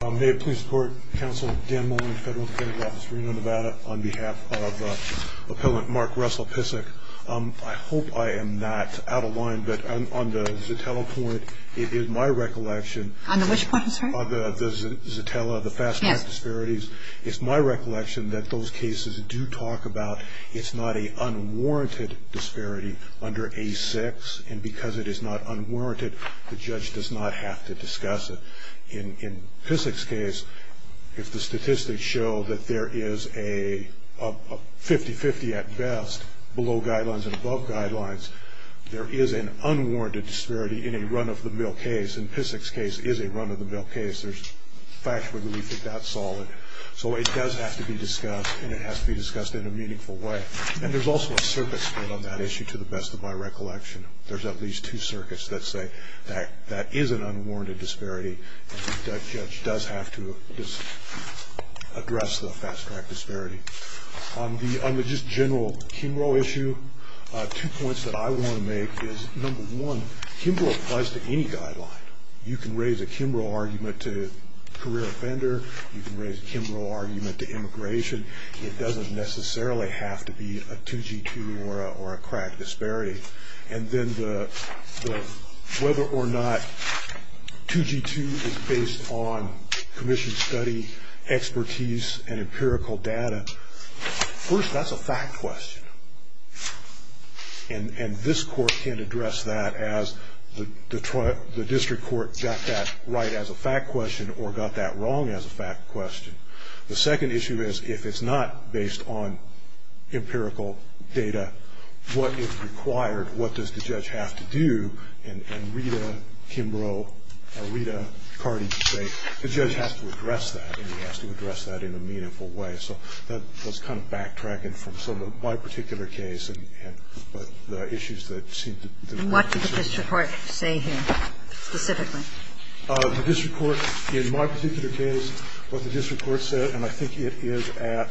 May it please the court, Counsel Dan Mullin, Federal Credit Office, Reno, Nevada, on behalf of Appellant Mark Russell Psick. I hope I am not out of line, but on the Zotella point, it is my recollection On the which point, I'm sorry? On the Zotella, the fast track disparities, it's my recollection that those cases do talk about it's not a unwarranted disparity under A6, and because it is not unwarranted, the judge does not have to discuss it. In Psick's case, if the statistics show that there is a 50-50 at best, below guidelines and above guidelines, there is an unwarranted disparity in a run-of-the-mill case, and Psick's case is a run-of-the-mill case, there's factually belief that that's solid. So it does have to be discussed, and it has to be discussed in a meaningful way. And there's also a circuit split on that issue, to the best of my recollection. There's at least two circuits that say that is an unwarranted disparity, and the judge does have to address the fast track disparity. On the just general Kimbrough issue, two points that I want to make is, number one, Kimbrough applies to any guideline. You can raise a Kimbrough argument to career offender, you can raise a Kimbrough argument to immigration, it doesn't necessarily have to be a 2G2 or a crack disparity. And then whether or not 2G2 is based on commission study, expertise, and empirical data, first, that's a fact question. And this court can't address that as the district court got that right as a fact question or got that wrong as a fact question. The second issue is, if it's not based on empirical data, what is required? What does the judge have to do? And Rita Kimbrough or Rita Cardi say the judge has to address that, and he has to address that in a meaningful way. So that was kind of backtracking from some of my particular case and the issues that seemed to be concerned. And what did the district court say here specifically? The district court, in my particular case, what the district court said, and I think it is at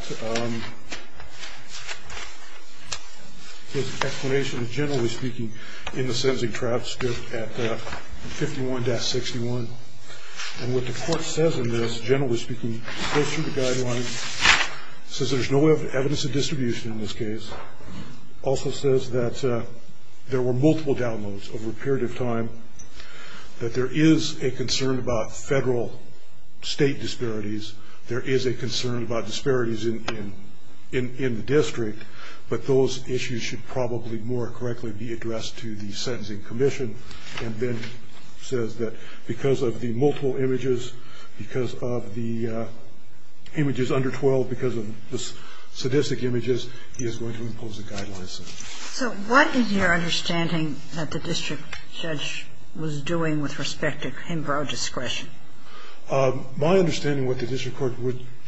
his explanation, generally speaking, in the sentencing transcript at 51-61. And what the court says in this, generally speaking, goes through the guidelines, says there's no evidence of distribution in this case. Also says that there were multiple downloads over a period of time, that there is a concern about Federal-State disparities. There is a concern about disparities in the district, but those issues should probably more correctly be addressed to the sentencing commission, and then says that because of the multiple images, because of the images under 12, because of the sadistic images, he is going to impose a guideline. So what is your understanding that the district judge was doing with respect to him broad discretion? My understanding of what the district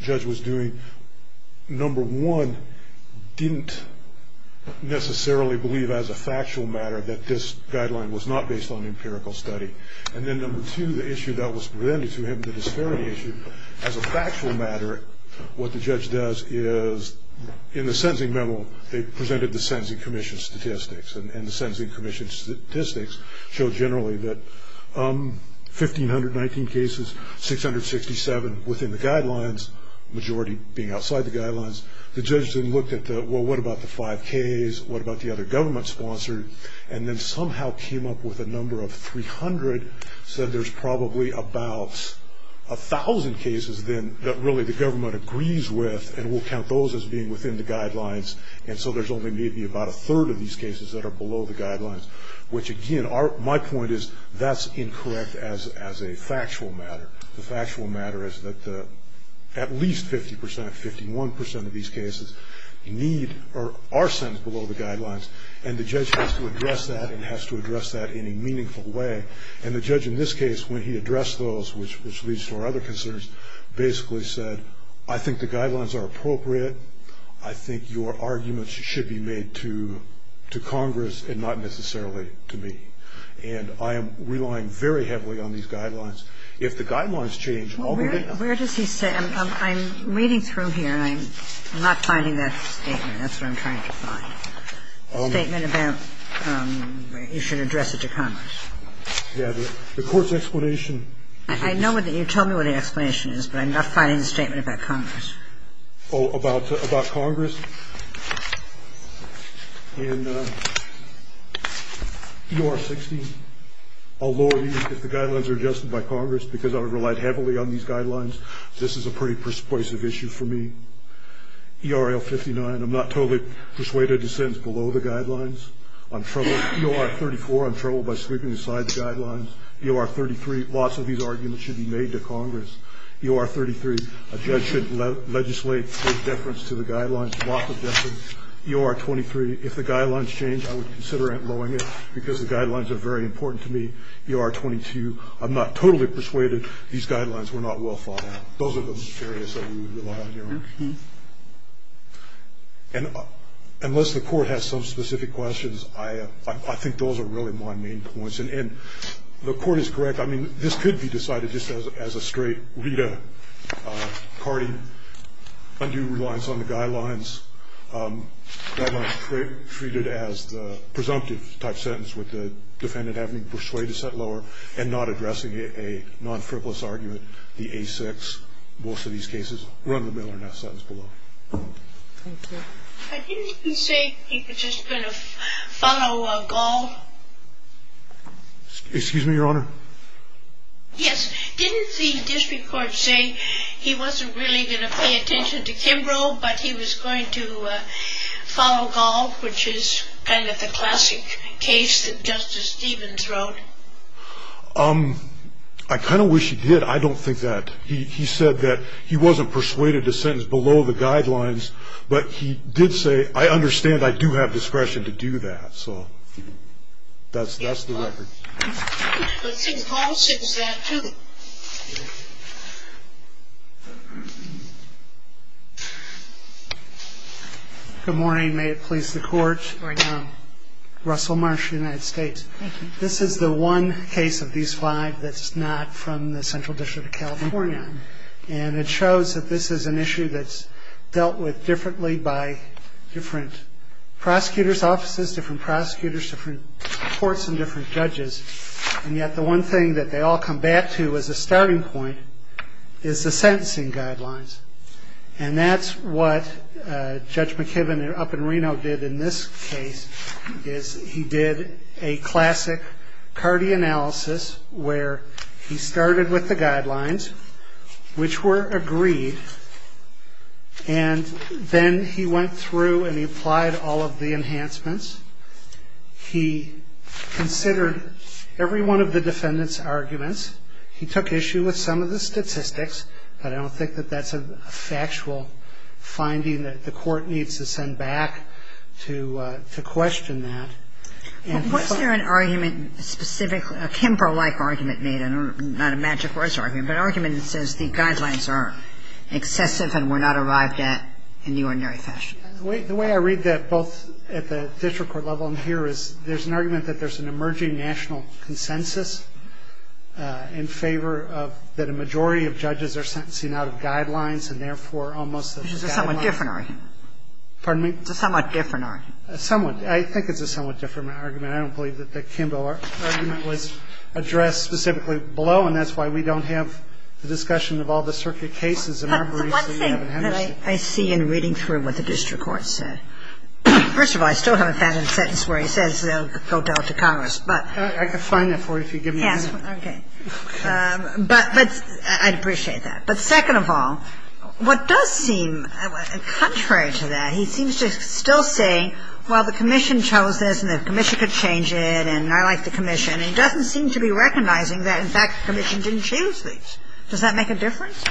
judge was doing, number one, didn't necessarily believe as a factual matter that this guideline was not based on empirical study. And then number two, the issue that was presented to him, the disparity issue, as a factual matter, what the judge does is in the sentencing memo, they presented the sentencing commission statistics. And the sentencing commission statistics show generally that 1,519 cases, 667 within the guidelines, majority being outside the guidelines. The judge then looked at, well, what about the 5Ks? What about the other government-sponsored? And then somehow came up with a number of 300, said there's probably about 1,000 cases then that really the government agrees with and will count those as being within the guidelines. And so there's only maybe about a third of these cases that are below the guidelines, which, again, my point is that's incorrect as a factual matter. The factual matter is that at least 50%, 51% of these cases are sent below the guidelines, and the judge has to address that and has to address that in a meaningful way. And the judge in this case, when he addressed those, which leads to our other concerns, basically said, I think the guidelines are appropriate. I think your arguments should be made to Congress and not necessarily to me. And I am relying very heavily on these guidelines. If the guidelines change, I'll be able to do that. Kagan. Well, where does he say? I'm reading through here, and I'm not finding that statement. That's what I'm trying to find, a statement about you should address it to Congress. Yeah. The court's explanation. I know that you told me what the explanation is, but I'm not finding the statement about Congress. Oh, about Congress? In EOR 16, although the guidelines are adjusted by Congress because I've relied heavily on these guidelines, this is a pretty persuasive issue for me. EOR 59, I'm not totally persuaded it descends below the guidelines. On EOR 34, I'm troubled by sweeping aside the guidelines. EOR 33, lots of these arguments should be made to Congress. EOR 33, a judge should legislate for deference to the guidelines, lots of deference. EOR 23, if the guidelines change, I would consider outlawing it because the guidelines are very important to me. EOR 22, I'm not totally persuaded these guidelines were not well thought out. Those are the areas that we rely on here. And unless the court has some specific questions, I think those are really my main points. And the court is correct. I mean, this could be decided just as a straight RETA carding, undue reliance on the guidelines, guidelines treated as the presumptive type sentence with the defendant having persuaded to set lower and not addressing a non-frivolous argument, the A6. Most of these cases run in the middle or in that sentence below. Thank you. I didn't say he was just going to follow a gall. Excuse me, Your Honor? Yes. Didn't the district court say he wasn't really going to pay attention to Kimbrough, but he was going to follow gall, which is kind of the classic case that Justice Stevens wrote? I kind of wish he did. I don't think that. He said that he wasn't persuaded to sentence below the guidelines, but he did say, I understand I do have discretion to do that. So that's the record. Good morning. May it please the Court. Good morning, Your Honor. Russell Marsh, United States. Thank you. This is the one case of these five that's not from the Central District of California. And it shows that this is an issue that's dealt with differently by different prosecutors' offices, different prosecutors, different courts, and different judges. And yet the one thing that they all come back to as a starting point is the sentencing guidelines. And that's what Judge McKibben up in Reno did in this case, is he did a classic Cardi analysis where he started with the guidelines, which were agreed, and then he went through and he applied all of the enhancements. He considered every one of the defendant's arguments. He took issue with some of the statistics, but I don't think that that's a factual finding that the Court needs to send back to question that. Was there an argument specifically, a Kemper-like argument made, not a magic horse argument, but an argument that says the guidelines are excessive and were not arrived at in the ordinary fashion? The way I read that, both at the district court level and here, is there's an argument that there's an emerging national consensus in favor of that a majority of judges are sentencing out of guidelines and, therefore, almost a guideline. It's a somewhat different argument. Pardon me? It's a somewhat different argument. Somewhat. I think it's a somewhat different argument. I don't believe that the Kemper argument was addressed specifically below, and that's why we don't have the discussion of all the circuit cases in our briefs that we haven't had. But the one thing that I see in reading through what the district court said, first of all, I still haven't found a sentence where he says they'll go down to Congress, but. I can find that for you if you give me a minute. Yes, okay. But I'd appreciate that. But second of all, what does seem contrary to that, he seems to still say, well, the commission chose this and the commission could change it, and I like the commission. And he doesn't seem to be recognizing that, in fact, the commission didn't choose these. Does that make a difference?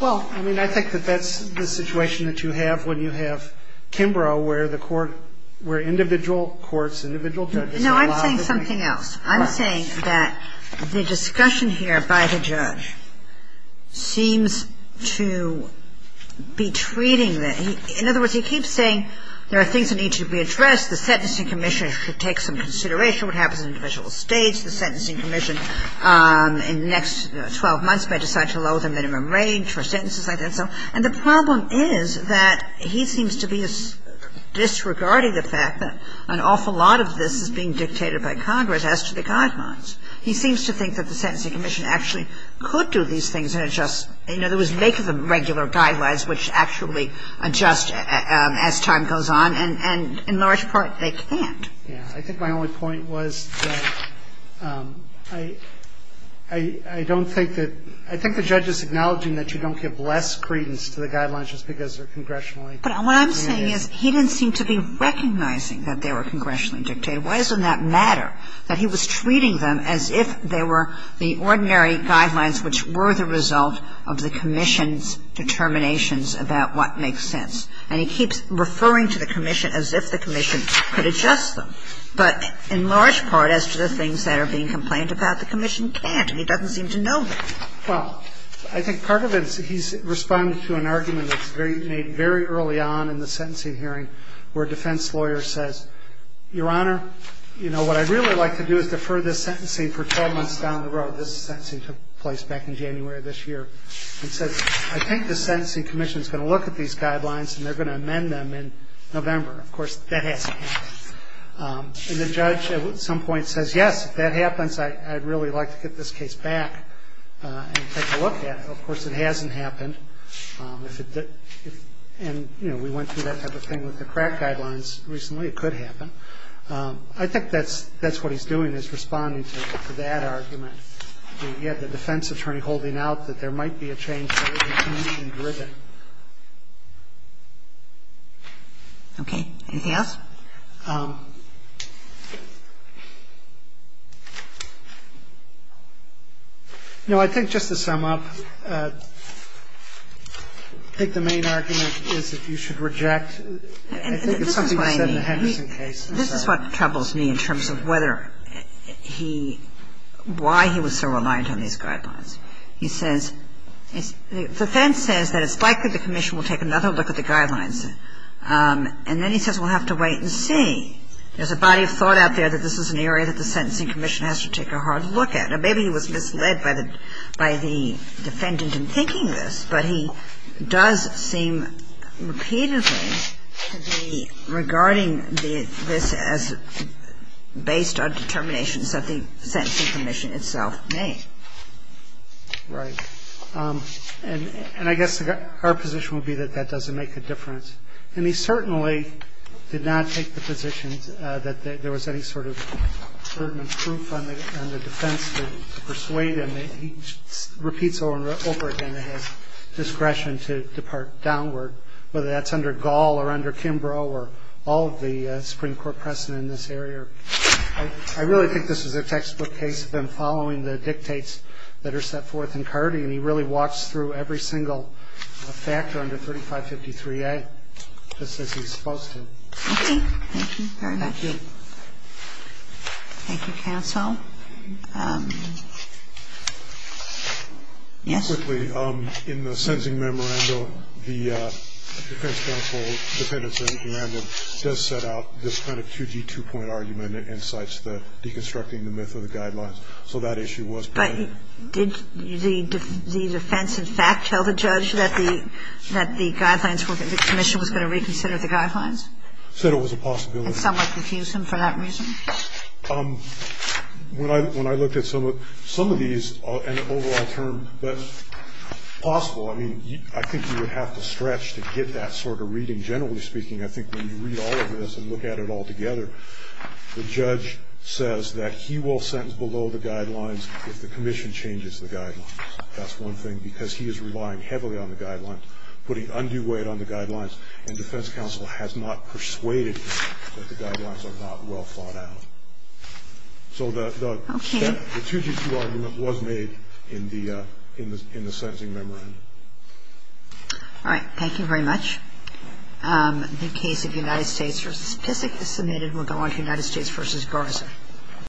Well, I mean, I think that that's the situation that you have when you have Kimbrough where the court, where individual courts, individual judges. No, I'm saying something else. I'm saying that the discussion here by the judge seems to be treating the – in other words, he keeps saying there are things that need to be addressed, the sentencing commission should take some consideration, what happens in individual states, the sentencing commission in the next 12 months may decide to lower the minimum range for sentences like that. And the problem is that he seems to be disregarding the fact that an awful lot of this is being dictated by Congress as to the guidelines. He seems to think that the sentencing commission actually could do these things and adjust – in other words, make the regular guidelines which actually adjust as time goes on, and in large part, they can't. Yeah. I think my only point was that I don't think that – I think the judge is acknowledging that you don't give less credence to the guidelines just because they're congressionally mandated. But what I'm saying is he didn't seem to be recognizing that they were congressionally dictated. Why does it not matter that he was treating them as if they were the ordinary guidelines which were the result of the commission's determinations about what makes sense? And he keeps referring to the commission as if the commission could adjust them. But in large part, as to the things that are being complained about, the commission can't, and he doesn't seem to know that. Well, I think part of it is he's responding to an argument that's made very early on in the sentencing hearing where a defense lawyer says, Your Honor, you know, what I'd really like to do is defer this sentencing for 12 months down the road. This sentencing took place back in January of this year. And says, I think the Sentencing Commission is going to look at these guidelines and they're going to amend them in November. Of course, that hasn't happened. And the judge at some point says, Yes, if that happens, I'd really like to get this case back and take a look at it. Of course, it hasn't happened. And, you know, we went through that type of thing with the crack guidelines recently. It could happen. I think that's what he's doing is responding to that argument. He had the defense attorney holding out that there might be a change in the commission driven. Okay. Anything else? No, I think just to sum up, I think the main argument is that you should reject I think it's something you said in the Henderson case. And this is what troubles me in terms of whether he why he was so reliant on these guidelines. He says, the defense says that it's likely the commission will take another look at the guidelines. And then he says we'll have to wait and see. There's a body of thought out there that this is an area that the sentencing commission has to take a hard look at. Now, maybe he was misled by the defendant in thinking this, but he does seem repeatedly to be regarding this as based on determinations that the sentencing commission itself made. Right. And I guess our position would be that that doesn't make a difference. And he certainly did not take the position that there was any sort of certain proof on the defense to persuade him that he repeats over and over again that he has discretion to depart downward, whether that's under Gall or under Kimbrough or all of the Supreme Court precedent in this area. I really think this was a textbook case of him following the dictates that are set forth in Carty, and he really walks through every single factor under 3553A just as he's supposed to. Thank you. Thank you very much. Thank you. Thank you, counsel. Yes? Quickly, in the sentencing memorandum, the defense counsel, defendant sentencing memorandum, does set out this kind of 2G2 point argument and cites the deconstructing the myth of the guidelines. So that issue was present. But did the defense, in fact, tell the judge that the guidelines were the commission was going to reconsider the guidelines? Said it was a possibility. And somewhat confused him for that reason? When I looked at some of these, an overall term, but possible. I mean, I think you would have to stretch to get that sort of reading. Generally speaking, I think when you read all of this and look at it all together, the judge says that he will sentence below the guidelines if the commission changes the guidelines. That's one thing. Because he is relying heavily on the guidelines, putting undue weight on the guidelines. And defense counsel has not persuaded him that the guidelines are not well thought out. So the 2G2 argument was made in the sentencing memorandum. All right. Thank you very much. The case of United States v. Pysyk is submitted. We'll go on to United States v. Garza.